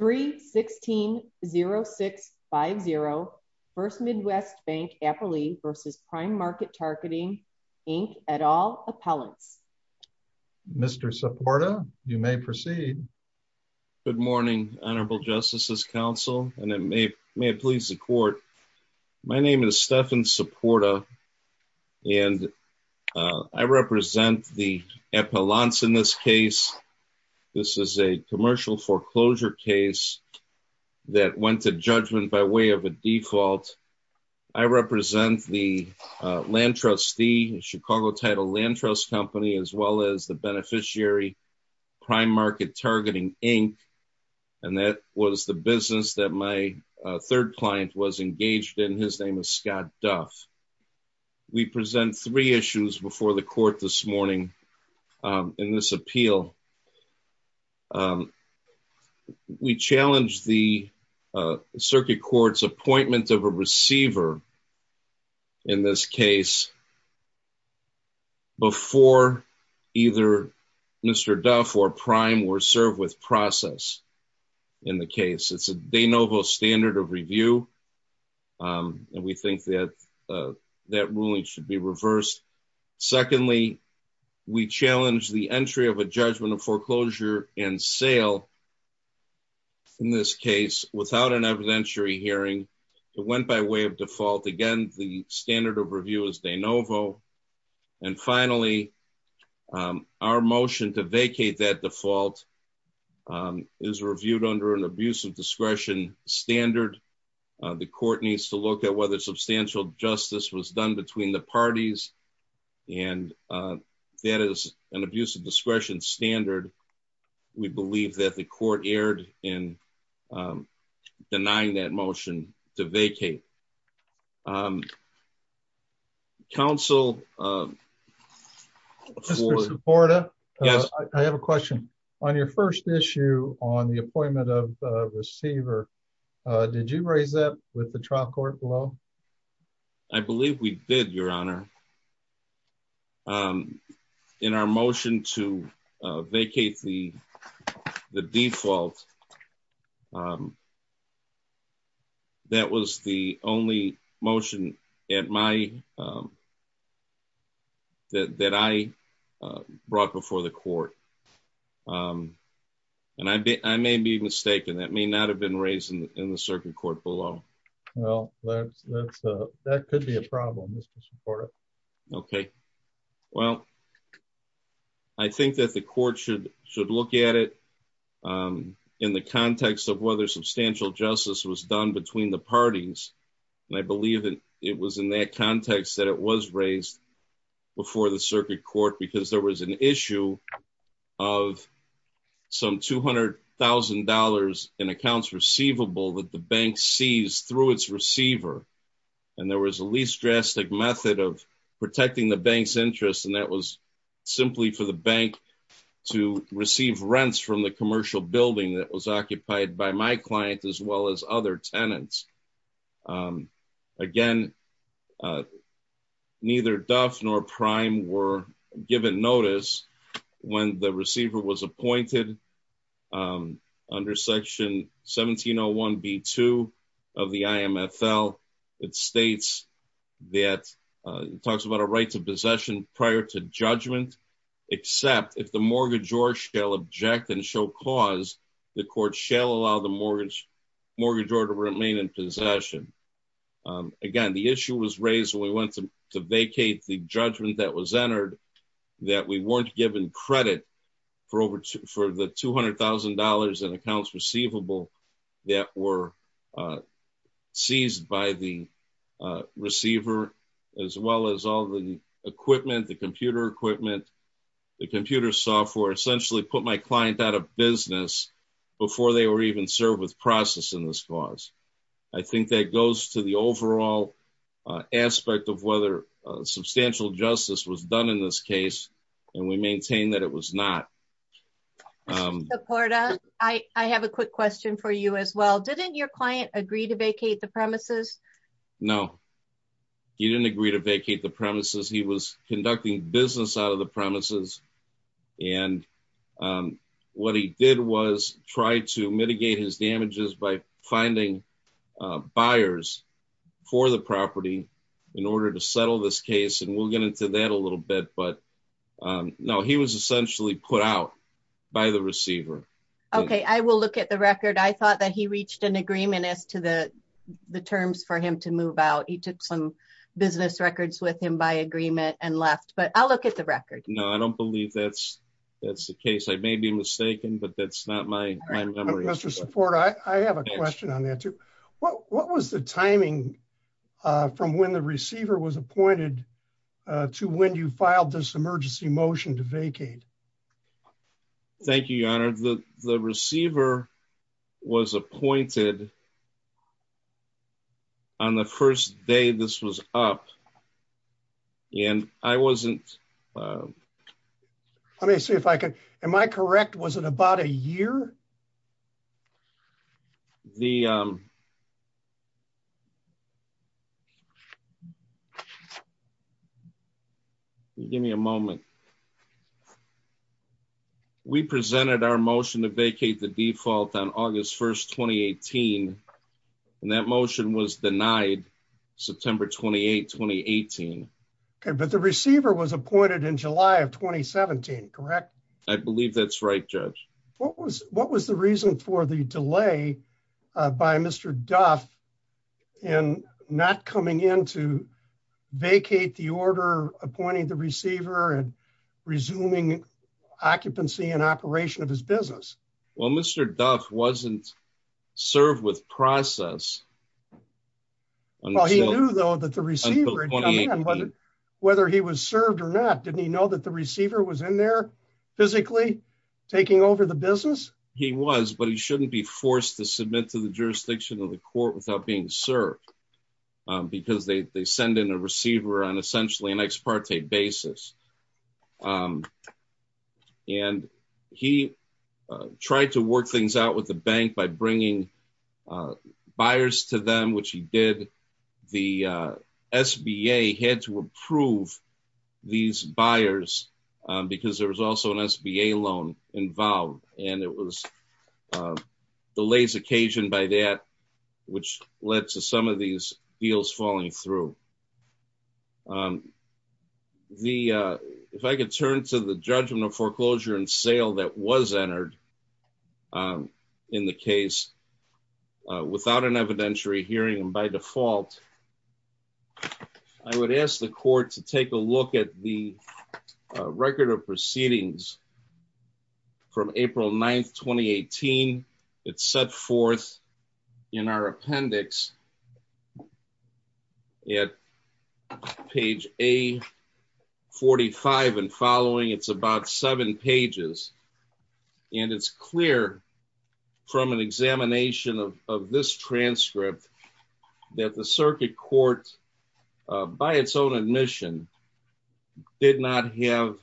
3-16-06-50 1st Midwest Bank Appalachia v. Prime Market Targeting, Inc. et al. Appellants. Mr. Supporta, you may proceed. Good morning, Honorable Justices Council, and may it please the Court. My name is Stephan Supporta, and I represent the appellants in this case. This is a commercial foreclosure case that went to judgment by way of a default. I represent the land trustee, Chicago Title Land Trust Company, as well as the beneficiary, Prime Market Targeting, Inc., and that was the business that my third client was engaged in. His name is Scott Duff. We present three issues before the Court this morning in this appeal. We challenge the Circuit Court's appointment of a receiver in this case before either Mr. Duff or Prime were served with process in the case. It's a de novo standard of review, and we think that that ruling should be reversed. Secondly, we challenge the entry of a judgment of foreclosure and sale in this case without an evidentiary hearing. It went by way of default. Again, the standard of review is de novo. And finally, our motion to vacate that default is reviewed under an abuse of discretion standard. The Court needs to look at whether substantial justice was done between the parties, and that is an abuse of discretion standard. We believe that the Court erred in denying that motion to vacate. Mr. Seporda, I have a question. On your first issue on the appointment of a receiver, did you raise that with the trial court below? I believe we did, Your Honor. In our motion to vacate the default, that was the only motion that I brought before the Court, and I may be mistaken. That may not have been raised in the Circuit Court below. Well, that could be a problem, Mr. Seporda. Okay. Well, I think that the Court should look at it in the context of whether substantial justice was done between the parties. And I believe that it was in that context that it was raised before the Circuit Court, because there was an issue of some $200,000 in accounts receivable that the bank seized through its receiver. And there was a least drastic method of protecting the bank's interest, and that was simply for the bank to receive rents from the commercial building that was occupied by my client as well as other tenants. Again, neither Duff nor Prime were given notice when the receiver was appointed under Section 1701B2 of the IMFL. It states that it talks about a right to possession prior to judgment, except if the mortgagor shall object and show cause, the Court shall allow the mortgagor to remain in possession. Again, the issue was raised when we went to vacate the judgment that was entered, that we weren't given credit for the $200,000 in accounts receivable that were seized by the receiver, as well as all the equipment, the computer equipment, the computer software, essentially put my client out of business before they were even served with process in this cause. I think that goes to the overall aspect of whether substantial justice was done in this case, and we maintain that it was not. I have a quick question for you as well. Didn't your client agree to vacate the premises? No, he didn't agree to vacate the premises. He was conducting business out of the premises, and what he did was try to mitigate his damages by finding buyers for the property in order to settle this case, and we'll get into that a little bit, but no, he was essentially put out by the receiver. Okay, I will look at the record. I thought that he reached an agreement as to the terms for him to move out. He took some business records with him by agreement and left, but I'll look at the record. No, I don't believe that's the case. I may be mistaken, but that's not my memory. Mr. Support, I have a question on that too. What was the timing from when the receiver was appointed to when you filed this emergency motion to vacate? Thank you, Your Honor. The receiver was appointed on the first day this was up, and I wasn't... Let me see if I can... Am I correct? Was it about a year? Give me a moment. We presented our motion to vacate the default on August 1st, 2018, and that motion was denied September 28, 2018. Okay, but the receiver was appointed in July of 2017, correct? I believe that's right, Judge. What was the reason for the delay by Mr. Duff in not coming in to vacate the order appointing the receiver and resuming occupancy and operation of his business? Well, Mr. Duff wasn't served with process until... He was, but he shouldn't be forced to submit to the jurisdiction of the court without being served, because they send in a receiver on essentially an ex parte basis. And he tried to work things out with the bank by bringing buyers to them, which he did. The SBA had to approve these buyers because there was also an SBA loan involved, and it was delays occasioned by that, which led to some of these deals falling through. If I could turn to the judgment of foreclosure and sale that was entered in the case without an evidentiary hearing by default, I would ask the court to take a look at the record of proceedings from April 9, 2018. It's set forth in our appendix at page A45 and following. It's about seven pages, and it's clear from an examination of this transcript that the circuit court, by its own admission, did not have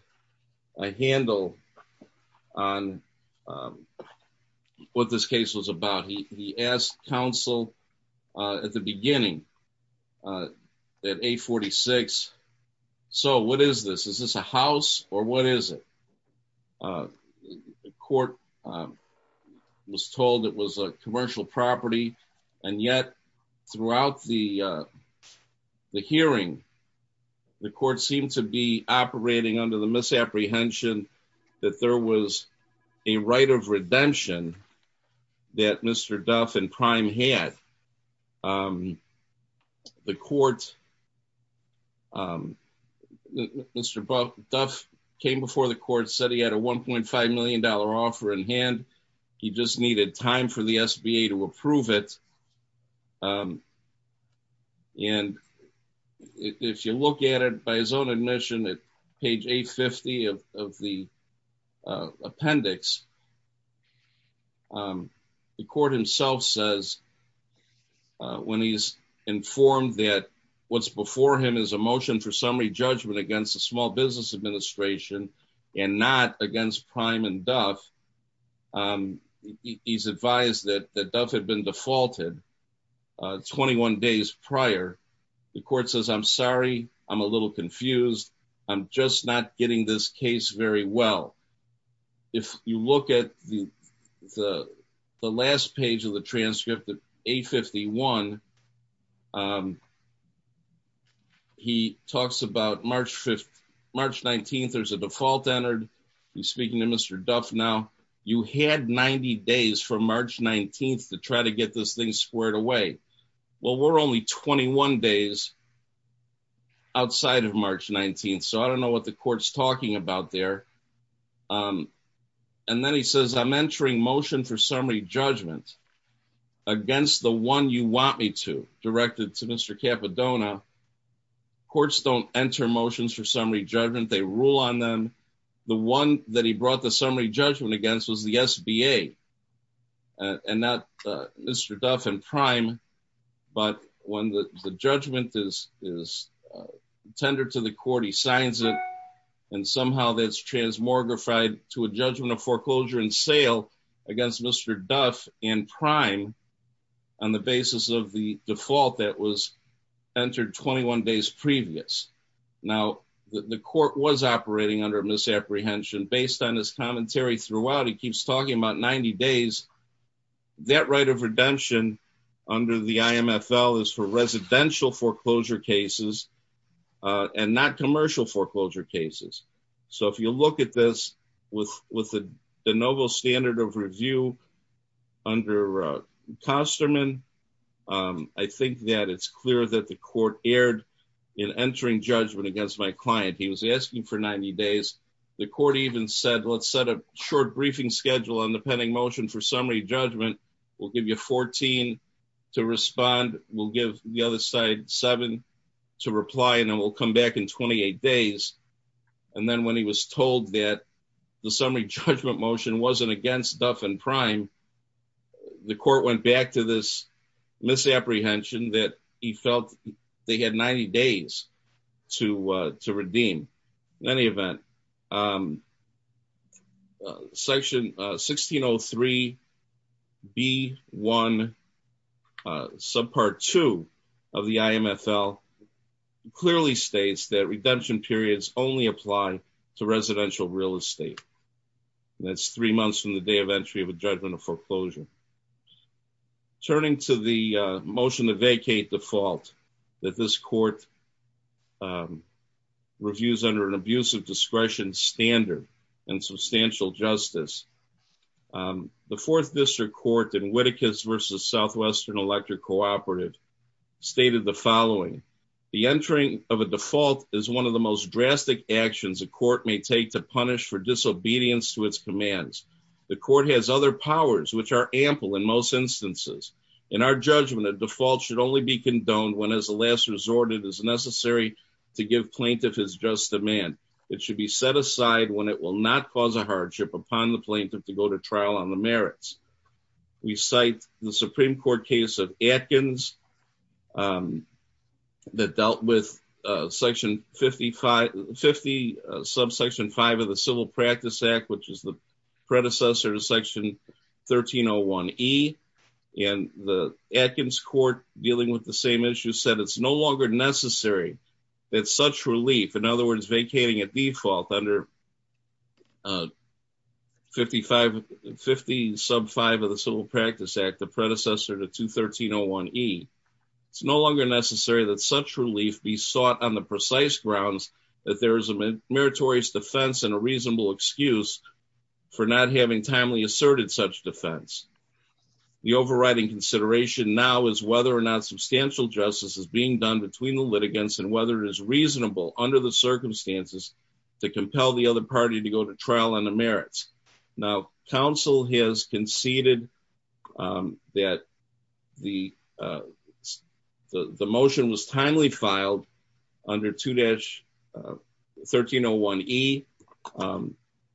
a handle on what this case was about. He asked counsel at the beginning, at A46, so what is this? Is this a house or what is it? The court was told it was a commercial property, and yet throughout the hearing, the court seemed to be operating under the misapprehension that there was a right of redemption that Mr. Duff and Prime had. Mr. Duff came before the court, said he had a $1.5 million offer in hand. He just needed time for the SBA to approve it, and if you look at it by his own admission at page A50 of the appendix, the court himself says when he's informed that what's before him is a motion for summary judgment against the Small Business Administration and not against Prime and Duff, he's advised that Duff had been defaulted 21 days prior. The court says, I'm sorry, I'm a little confused, I'm just not getting this case very well. If you look at the last page of the transcript of A51, he talks about March 19th, there's a default entered. He's speaking to Mr. Duff now. You had 90 days from March 19th to try to get this thing squared away. Well, we're only 21 days outside of March 19th, so I don't know what the court's talking about there. And then he says, I'm entering motion for summary judgment against the one you want me to, directed to Mr. Capodona. Courts don't enter motions for summary judgment, they rule on them. The one that he brought the summary judgment against was the SBA and not Mr. Duff and Prime. But when the judgment is tendered to the court, he signs it. And somehow that's transmogrified to a judgment of foreclosure and sale against Mr. Duff and Prime on the basis of the default that was entered 21 days previous. Now, the court was operating under misapprehension. Based on his commentary throughout, he keeps talking about 90 days. That right of redemption under the IMFL is for residential foreclosure cases and not commercial foreclosure cases. So if you look at this with the novel standard of review under Kosterman, I think that it's clear that the court erred in entering judgment against my client. He was asking for 90 days. The court even said, let's set a short briefing schedule on the pending motion for summary judgment. We'll give you 14 to respond. We'll give the other side seven to reply, and then we'll come back in 28 days. And then when he was told that the summary judgment motion wasn't against Duff and Prime, the court went back to this misapprehension that he felt they had 90 days to redeem. In any event, section 1603B1 subpart 2 of the IMFL clearly states that redemption periods only apply to residential real estate. That's three months from the day of entry of a judgment of foreclosure. Turning to the motion to vacate default that this court reviews under an abusive discretion standard and substantial justice, the Fourth District Court in Whittakus v. Southwestern Electric Cooperative stated the following. The entering of a default is one of the most drastic actions a court may take to punish for disobedience to its commands. The court has other powers which are ample in most instances. In our judgment, a default should only be condoned when, as a last resort, it is necessary to give plaintiff his just demand. It should be set aside when it will not cause a hardship upon the plaintiff to go to trial on the merits. We cite the Supreme Court case of Atkins that dealt with 50 subsection 5 of the Civil Practice Act, which is the predecessor to section 1301E. And the Atkins court dealing with the same issue said it's no longer necessary that such relief, in other words, vacating a default under 50 sub 5 of the Civil Practice Act, the predecessor to 21301E. It's no longer necessary that such relief be sought on the precise grounds that there is a meritorious defense and a reasonable excuse for not having timely asserted such defense. The overriding consideration now is whether or not substantial justice is being done between the litigants and whether it is reasonable under the circumstances to compel the other party to go to trial on the merits. Now, counsel has conceded that the motion was timely filed under 2-1301E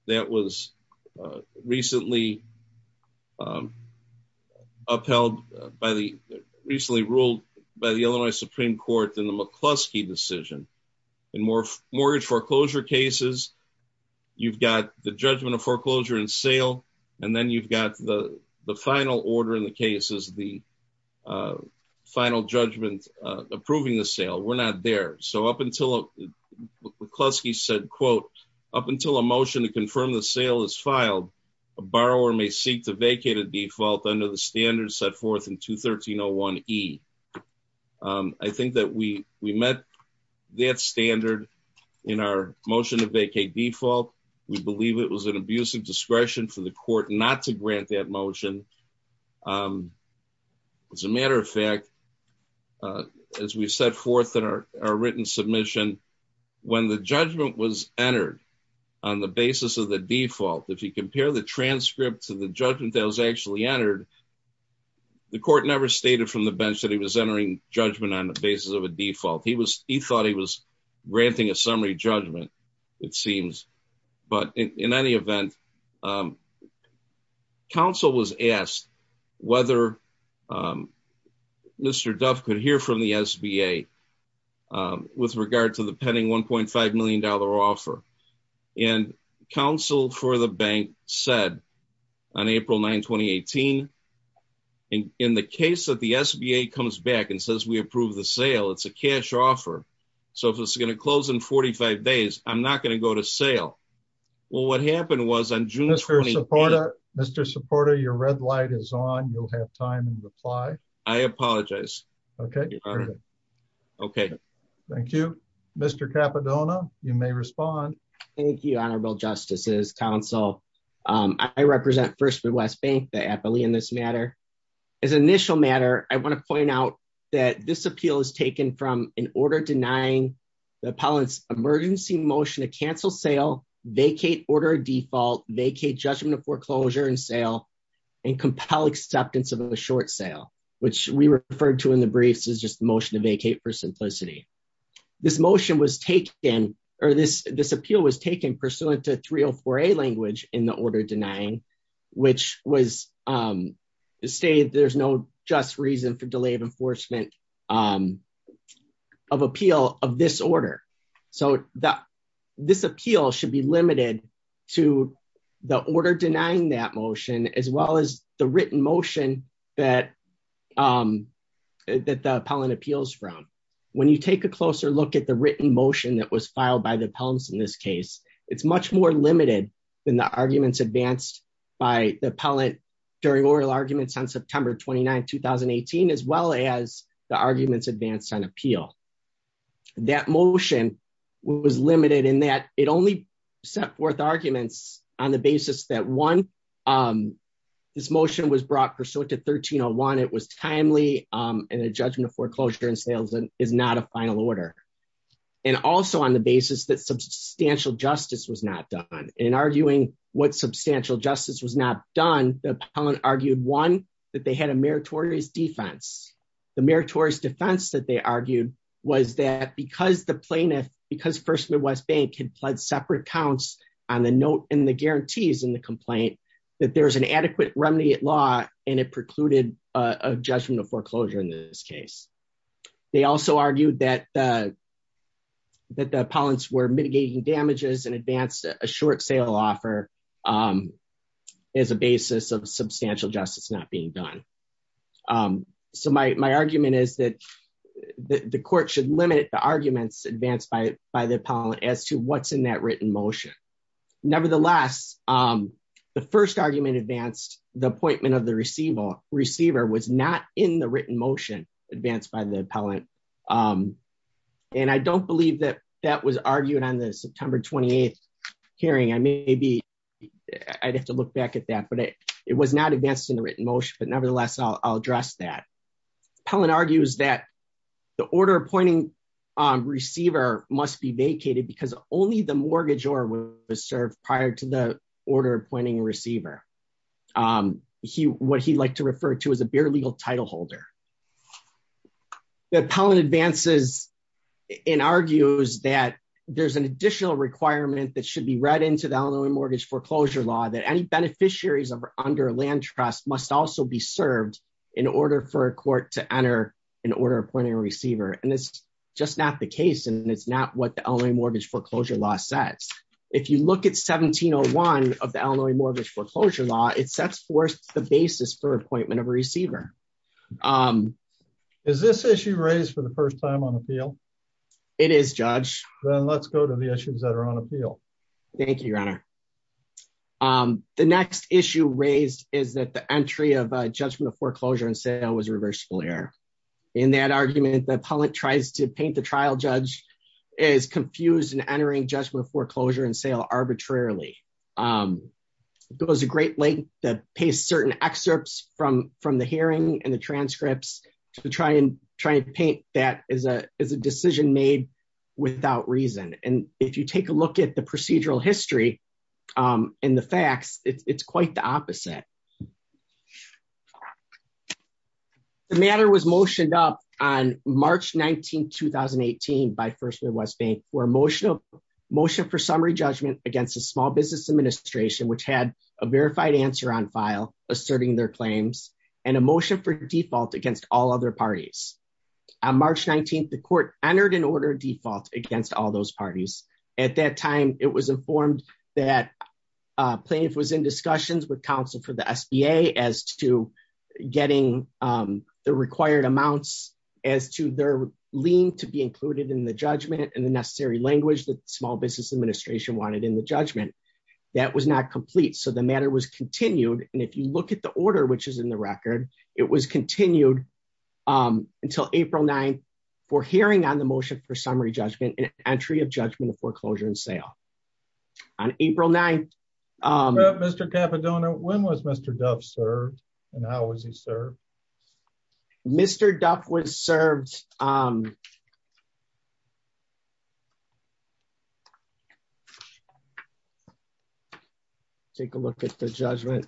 that was recently upheld by the recently ruled by the Illinois Supreme Court in the McCluskey decision. In mortgage foreclosure cases, you've got the judgment of foreclosure and sale, and then you've got the final order in the cases, the final judgment approving the sale. We're not there. So up until McCluskey said, quote, up until a motion to confirm the sale is filed, a borrower may seek to vacate a default under the standards set forth in 21301E. I think that we met that standard in our motion to vacate default. We believe it was an abuse of discretion for the court not to grant that motion. As a matter of fact, as we set forth in our written submission, when the judgment was entered on the basis of the default, if you compare the transcript to the judgment that was actually entered, the court never stated from the bench that he was entering judgment on the basis of a default. He thought he was granting a summary judgment, it seems. But in any event, counsel was asked whether Mr. Duff could hear from the SBA with regard to the pending $1.5 million offer. And counsel for the bank said, on April 9, 2018, in the case that the SBA comes back and says we approve the sale, it's a cash offer. So if it's going to close in 45 days, I'm not going to go to sale. Well, what happened was on June 28- Mr. Supporta, Mr. Supporta, your red light is on. You'll have time to reply. I apologize. Okay. Okay. Thank you. Mr. Cappadona, you may respond. Thank you, Honorable Justices, counsel. I represent First Midwest Bank, the appellee in this matter. As an initial matter, I want to point out that this appeal is taken from an order denying the appellant's emergency motion to cancel sale, vacate order default, vacate judgment of foreclosure and sale, and compel acceptance of a short sale, which we referred to in the briefs as just a motion to vacate for simplicity. This motion was taken, or this appeal was taken pursuant to 304A language in the order denying, which was stated there's no just reason for delay of enforcement of appeal of this order. So this appeal should be limited to the order denying that motion as well as the written motion that the appellant appeals from. When you take a closer look at the written motion that was filed by the appellants in this case, it's much more limited than the arguments advanced by the appellant during oral arguments on September 29, 2018, as well as the arguments advanced on appeal. That motion was limited in that it only set forth arguments on the basis that one, this motion was brought pursuant to 1301, it was timely, and the judgment of foreclosure and sales is not a final order. And also on the basis that substantial justice was not done. In arguing what substantial justice was not done, the appellant argued one, that they had a meritorious defense. The meritorious defense that they argued was that because the plaintiff, because First Midwest Bank had pled separate counts on the note in the guarantees in the complaint, that there's an adequate remedy at law, and it precluded a judgment of foreclosure in this case. They also argued that the appellants were mitigating damages and advanced a short sale offer as a basis of substantial justice not being done. So my argument is that the court should limit the arguments advanced by the appellant as to what's in that written motion. Nevertheless, the first argument advanced the appointment of the receiver was not in the written motion advanced by the appellant. And I don't believe that that was argued on the September 28 hearing. I may be, I'd have to look back at that, but it was not advanced in the written motion, but nevertheless I'll address that. The appellant argues that the order appointing receiver must be vacated because only the mortgagor was served prior to the order appointing a receiver. What he liked to refer to as a bare legal title holder. The appellant advances and argues that there's an additional requirement that should be read into the Illinois Mortgage Foreclosure Law that any beneficiaries under land trust must also be served in order for a court to enter an order appointing a receiver. And it's just not the case and it's not what the Illinois Mortgage Foreclosure Law says. If you look at 1701 of the Illinois Mortgage Foreclosure Law, it sets forth the basis for appointment of a receiver. Is this issue raised for the first time on appeal? It is, Judge. Then let's go to the issues that are on appeal. Thank you, Your Honor. The next issue raised is that the entry of a judgment of foreclosure and sale was reversible error. In that argument, the appellant tries to paint the trial judge as confused and entering judgment of foreclosure and sale arbitrarily. It goes a great length to paste certain excerpts from the hearing and the transcripts to try and paint that as a decision made without reason. And if you take a look at the procedural history and the facts, it's quite the opposite. The matter was motioned up on March 19, 2018 by First Midwest Bank for a motion for summary judgment against the Small Business Administration, which had a verified answer on file asserting their claims and a motion for default against all other parties. On March 19, the court entered an order of default against all those parties. At that time, it was informed that plaintiff was in discussions with counsel for the SBA as to getting the required amounts as to their lien to be included in the judgment and the necessary language that the Small Business Administration wanted in the judgment. That was not complete, so the matter was continued. And if you look at the order, which is in the record, it was continued until April 9 for hearing on the motion for summary judgment and entry of judgment of foreclosure and sale. On April 9... Mr. Capodono, when was Mr. Duff served and how was he served? Mr. Duff was served... Take a look at the judgment.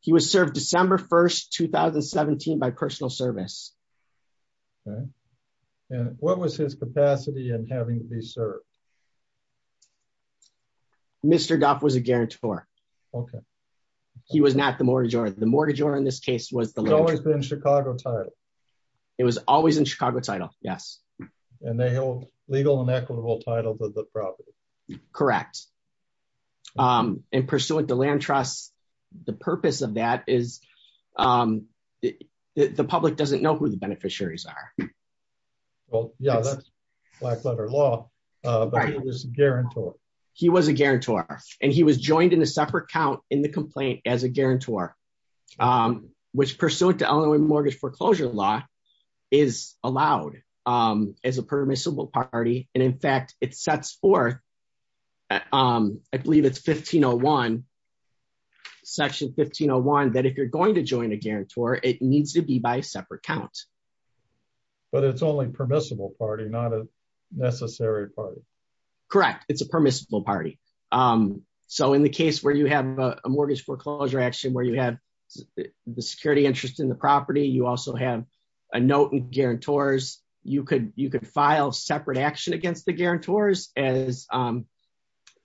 He was served December 1, 2017 by personal service. And what was his capacity in having to be served? Mr. Duff was a guarantor. Okay. He was not the mortgagor. The mortgagor in this case was... It's always been Chicago title. It was always in Chicago title, yes. And they held legal and equitable title to the property. Correct. And pursuant to land trust, the purpose of that is the public doesn't know who the beneficiaries are. Well, yeah, that's black letter law, but he was a guarantor. He was a guarantor, and he was joined in a separate count in the complaint as a guarantor, which pursuant to Illinois mortgage foreclosure law is allowed. As a permissible party. And in fact, it sets forth, I believe it's Section 1501, that if you're going to join a guarantor, it needs to be by a separate count. But it's only permissible party, not a necessary party. Correct. It's a permissible party. So in the case where you have a mortgage foreclosure action, where you have the security interest in the property, you also have a note and guarantors. You could you could file separate action against the guarantors, as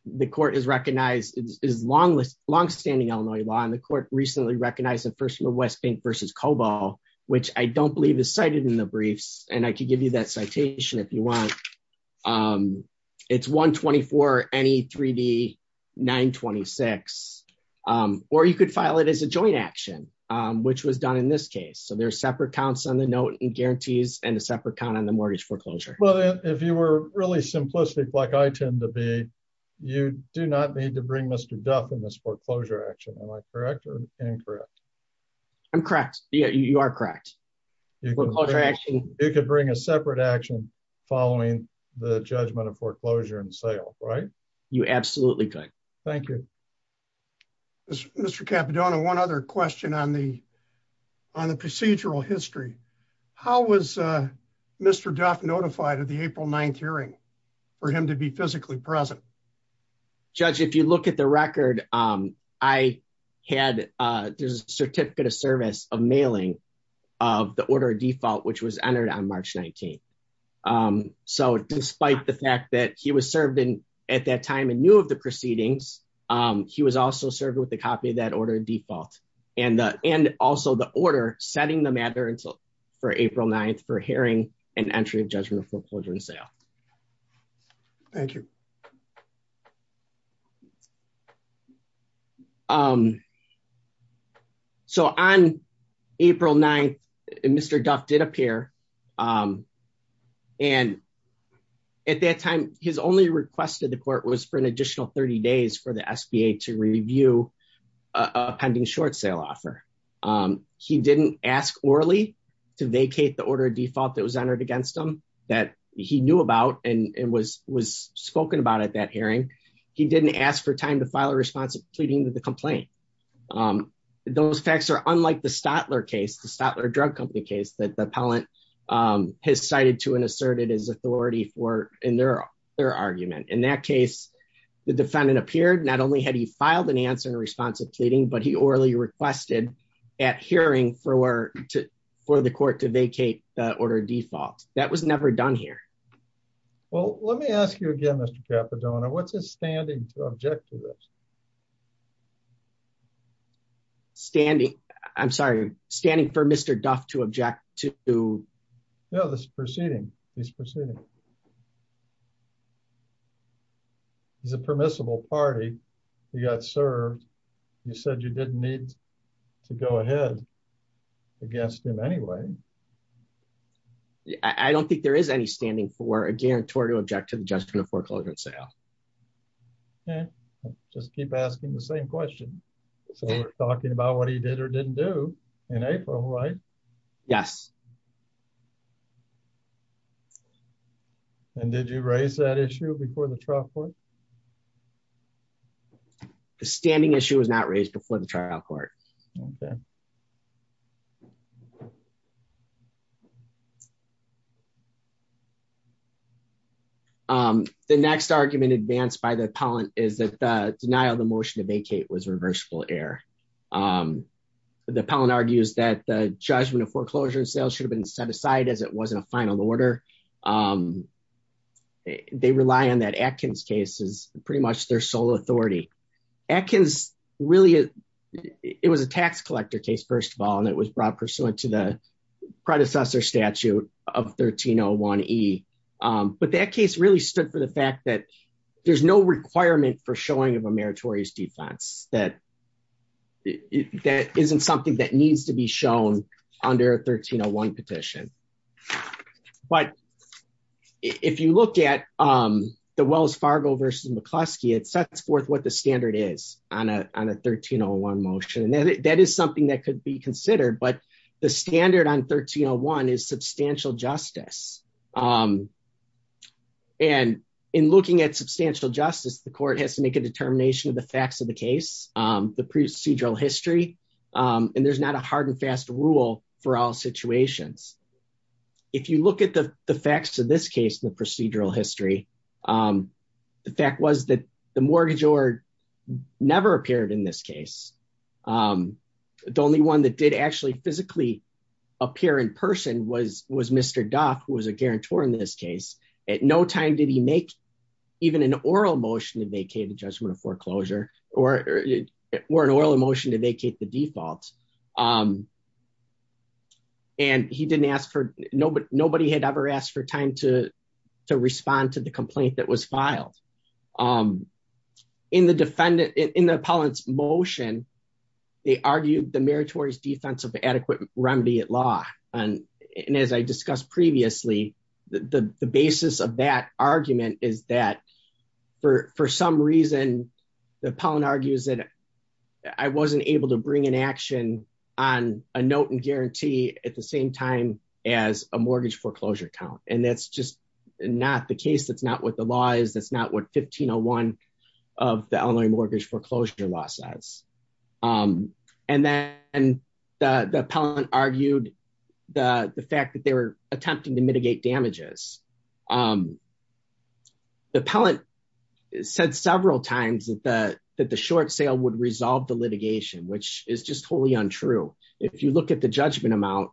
the court has recognized is long with longstanding Illinois law and the court recently recognized in First West Bank versus Cobo, which I don't believe is cited in the briefs, and I can give you that citation if you want. It's 124 NE3D926. Or you could file it as a joint action, which was done in this case. So there are separate counts on the note and guarantees and a separate count on the mortgage foreclosure. Well, if you were really simplistic, like I tend to be, you do not need to bring Mr. Duff in this foreclosure action. Am I correct or incorrect? I'm correct. You are correct. You could bring a separate action following the judgment of foreclosure and sale, right? You absolutely could. Thank you. Mr. Capodono, one other question on the procedural history. How was Mr. Duff notified of the April 9th hearing for him to be physically present? Judge, if you look at the record, I had a certificate of service of mailing of the order default, which was entered on March 19th. So despite the fact that he was served at that time and knew of the proceedings, he was also served with a copy of that order default and also the order setting the matter for April 9th for hearing and entry of judgment of foreclosure and sale. Thank you. So on April 9th, Mr. Duff did appear. And at that time, his only request to the court was for an additional 30 days for the SBA to review a pending short sale offer. He didn't ask orally to vacate the order default that was entered against him that he knew about and was spoken about at that hearing. He didn't ask for time to file a response of pleading to the complaint. Those facts are unlike the Stotler case, the Stotler Drug Company case that the appellant has cited to and asserted his authority in their argument. In that case, the defendant appeared not only had he filed an answer in response of pleading, but he orally requested at hearing for the court to vacate the order default. That was never done here. Well, let me ask you again, Mr. Capodono, what's his standing to object to this? Standing, I'm sorry, standing for Mr. Duff to object to... No, this is proceeding. He's proceeding. He's a permissible party. He got served. You said you didn't need to go ahead against him anyway. I don't think there is any standing for a guarantory to object to the judgment of foreclosure and sale. Just keep asking the same question. So we're talking about what he did or didn't do in April, right? Yes. And did you raise that issue before the trial court? The standing issue was not raised before the trial court. The next argument advanced by the appellant is that the denial of the motion to vacate was reversible error. The appellant argues that the judgment of foreclosure and sale should have been set aside as it wasn't a final order. They rely on that Atkins case as pretty much their sole authority. Atkins really, it was a tax collector case, first of all, and it was brought pursuant to the predecessor statute of 1301E. But that case really stood for the fact that there's no requirement for showing of a meritorious defense. That isn't something that needs to be shown under a 1301 petition. But if you look at the Wells Fargo v. McCluskey, it sets forth what the standard is on a 1301 motion. That is something that could be considered, but the standard on 1301 is substantial justice. And in looking at substantial justice, the court has to make a determination of the facts of the case, the procedural history. And there's not a hard and fast rule for all situations. If you look at the facts of this case, the procedural history, the fact was that the mortgage or never appeared in this case. The only one that did actually physically appear in person was Mr. Duff, who was a guarantor in this case. At no time did he make even an oral motion to vacate the judgment of foreclosure or an oral motion to vacate the default. And he didn't ask for, nobody had ever asked for time to respond to the complaint that was filed. In the defendant, in the appellant's motion, they argued the meritorious defense of adequate remedy at law. And as I discussed previously, the basis of that argument is that for some reason, the appellant argues that I wasn't able to bring an action on a note and guarantee at the same time as a mortgage foreclosure count. And that's just not the case. That's not what the law is. That's not what 1501 of the Illinois Mortgage Foreclosure Law says. And then the appellant argued the fact that they were attempting to mitigate damages. The appellant said several times that the short sale would resolve the litigation, which is just totally untrue. If you look at the judgment amount,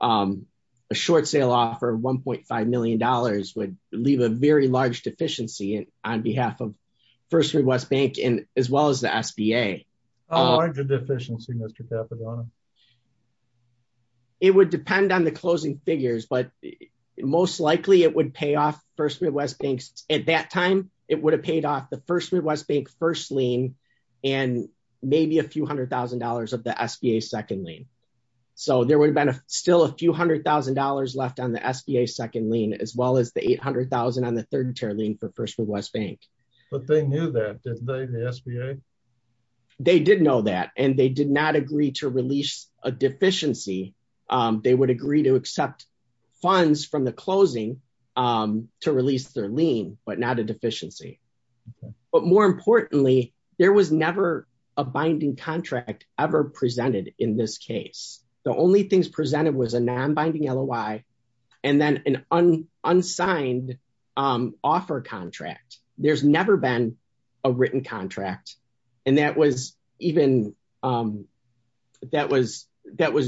a short sale offer of $1.5 million would leave a very large deficiency on behalf of First Midwest Bank, as well as the SBA. How large a deficiency, Mr. Papagianni? It would depend on the closing figures, but most likely it would pay off First Midwest Bank. At that time, it would have paid off the First Midwest Bank first lien and maybe a few hundred thousand dollars of the SBA second lien. So there would have been still a few hundred thousand dollars left on the SBA second lien, as well as the $800,000 on the third tier lien for First Midwest Bank. But they knew that, didn't they, the SBA? They did know that, and they did not agree to release a deficiency. They would agree to accept funds from the closing to release their lien, but not a deficiency. But more importantly, there was never a binding contract ever presented in this case. The only things presented was a non-binding LOI and then an unsigned offer contract. There's never been a written contract, and that was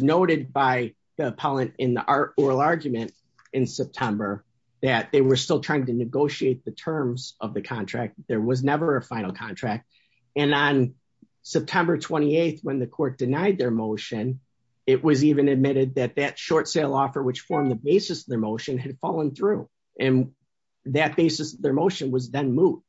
noted by the appellant in the oral argument in September that they were still trying to negotiate the terms of the contract. There was never a final contract. And on September 28th, when the court denied their motion, it was even admitted that that short sale offer, which formed the basis of their motion, had fallen through. And that basis of their motion was then moved.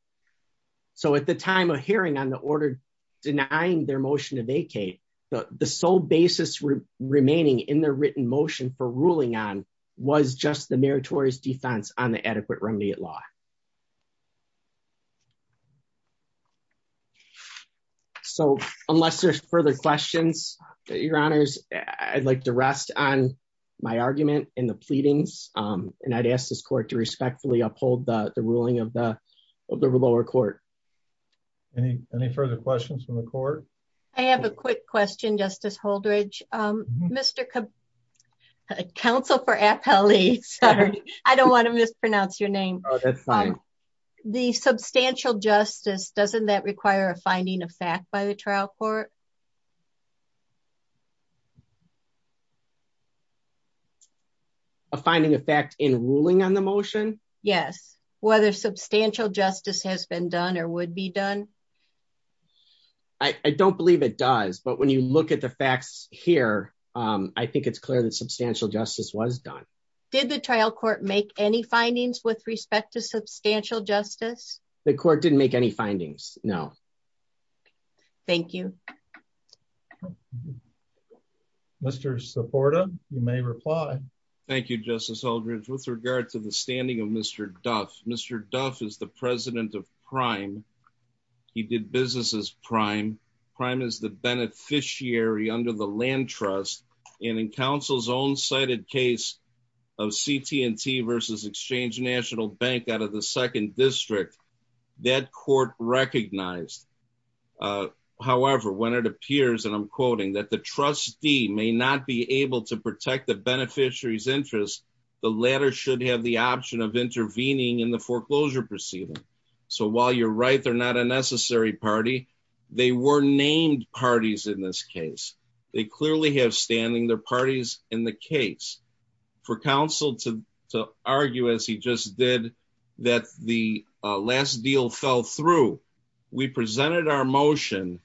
So at the time of hearing on the order denying their motion to vacate, the sole basis remaining in their written motion for ruling on was just the meritorious defense on the adequate remit law. So unless there's further questions, Your Honors, I'd like to rest on my argument and the pleadings. And I'd ask this court to respectfully uphold the ruling of the lower court. Any further questions from the court? I have a quick question, Justice Holdredge. Counsel for Appellee, I don't want to mispronounce your name. The substantial justice, doesn't that require a finding of fact by the trial court? A finding of fact in ruling on the motion? Yes. Whether substantial justice has been done or would be done? I don't believe it does. But when you look at the facts here, I think it's clear that substantial justice was done. Did the trial court make any findings with respect to substantial justice? The court didn't make any findings, no. Thank you. Mr. Seporda, you may reply. Thank you, Justice Holdredge. With regard to the standing of Mr. Duff, Mr. Duff is the president of Prime. He did business as Prime. Prime is the beneficiary under the land trust. And in counsel's own cited case of CT&T versus Exchange National Bank out of the second district, that court recognized. However, when it appears, and I'm quoting, that the trustee may not be able to protect the beneficiary's interest, the latter should have the option of intervening in the foreclosure proceeding. So while you're right, they're not a necessary party, they were named parties in this case. They clearly have standing, they're parties in the case. For counsel to argue, as he just did, that the last deal fell through, we presented our motion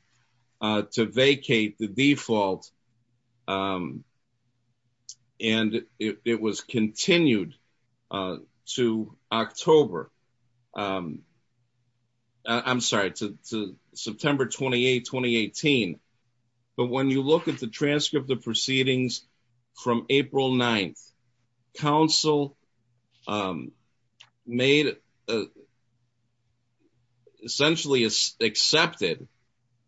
to vacate the default, and it was continued to October. I'm sorry, to September 28, 2018. But when you look at the transcript of proceedings from April 9, counsel made, essentially accepted,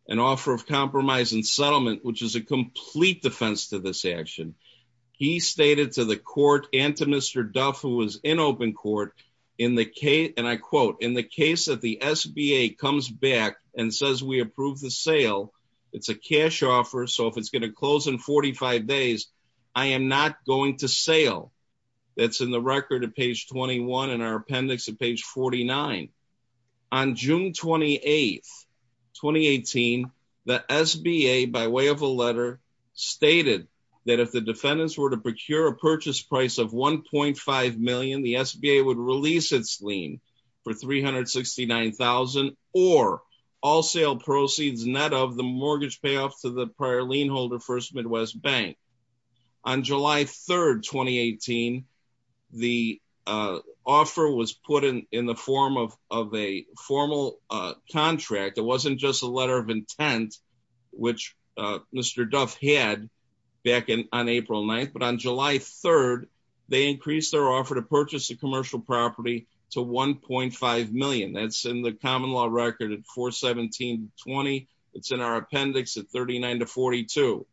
an offer of compromise and settlement, which is a complete defense to this action. He stated to the court and to Mr. Duff, who was in open court, and I quote, in the case that the SBA comes back and says we approve the sale, it's a cash offer, so if it's going to close in 45 days, I am not going to sale. That's in the record at page 21 and our appendix at page 49. On June 28, 2018, the SBA, by way of a letter, stated that if the defendants were to procure a purchase price of $1.5 million, the SBA would release its lien for $369,000, or all sale proceeds net of the mortgage payoff to the prior lien holder, First Midwest Bank. On July 3, 2018, the offer was put in the form of a formal contract. It wasn't just a letter of intent, which Mr. Duff had back on April 9, but on July 3, they increased their offer to purchase a commercial property to $1.5 million. That's in the common law record at 417.20. It's in our appendix at 39-42.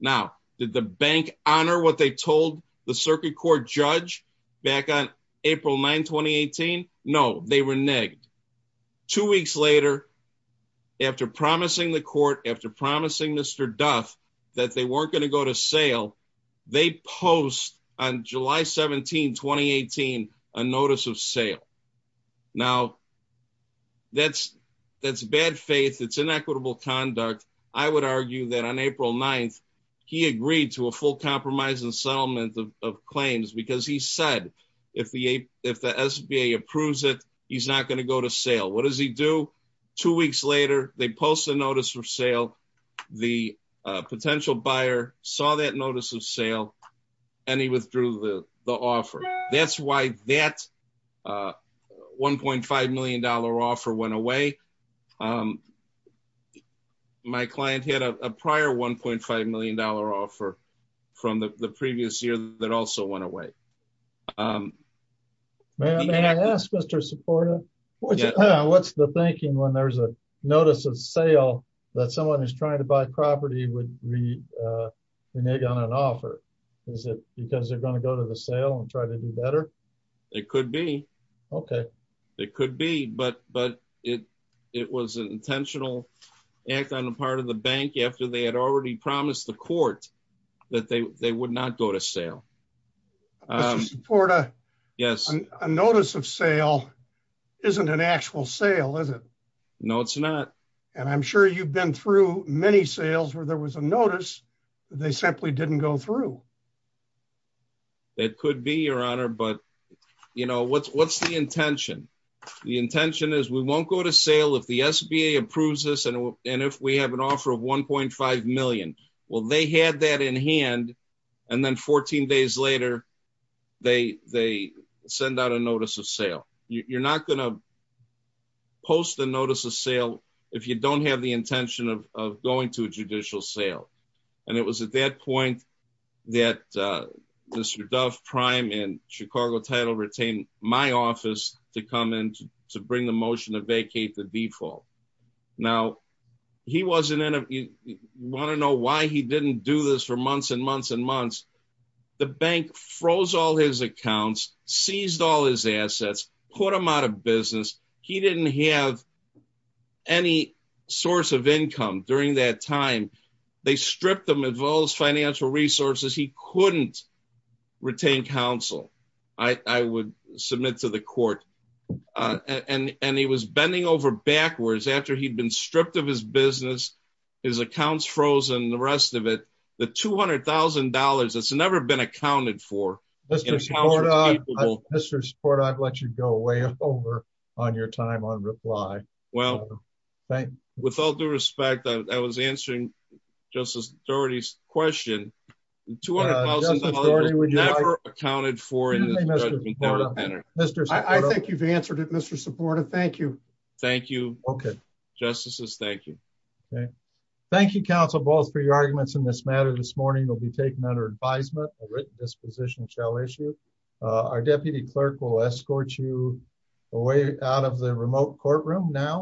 Now, did the bank honor what they told the circuit court judge back on April 9, 2018? No, they reneged. Two weeks later, after promising the court, after promising Mr. Duff, that they weren't going to go to sale, they post on July 17, 2018, a notice of sale. Now, that's bad faith. It's inequitable conduct. I would argue that on April 9, he agreed to a full compromise and settlement of claims because he said if the SBA approves it, he's not going to go to sale. What does he do? Two weeks later, they post a notice of sale. The potential buyer saw that notice of sale, and he withdrew the offer. That's why that $1.5 million offer went away. My client had a prior $1.5 million offer from the previous year that also went away. May I ask, Mr. Seporda, what's the thinking when there's a notice of sale that someone who's trying to buy property would renege on an offer? Is it because they're going to go to the sale and try to do better? It could be. It could be, but it was an intentional act on the part of the bank after they had already promised the court that they would not go to sale. Mr. Seporda, a notice of sale isn't an actual sale, is it? No, it's not. I'm sure you've been through many sales where there was a notice, but they simply didn't go through. It could be, Your Honor, but what's the intention? The intention is we won't go to sale if the SBA approves this and if we have an offer of $1.5 million. They had that in hand, and then 14 days later, they send out a notice of sale. You're not going to post a notice of sale if you don't have the intention of going to a judicial sale. It was at that point that Mr. Dove Prime and Chicago Title retained my office to come in to bring the motion to vacate the default. Now, you want to know why he didn't do this for months and months and months? The bank froze all his accounts, seized all his assets, put him out of business. He didn't have any source of income during that time. They stripped him of all his financial resources. He couldn't retain counsel, I would submit to the court. And he was bending over backwards after he'd been stripped of his business, his accounts frozen, the rest of it. The $200,000 that's never been accounted for. Mr. Sport, I'd let you go way over on your time on reply. Well, thank you. With all due respect, I was answering Justice Doherty's question. The $200,000 was never accounted for. I think you've answered it, Mr. Supportive. Thank you. Thank you. Justices, thank you. Thank you, counsel, both for your arguments in this matter. This morning will be taken under advisement. A written disposition shall issue. Our deputy clerk will escort you away out of the remote courtroom. Thank you.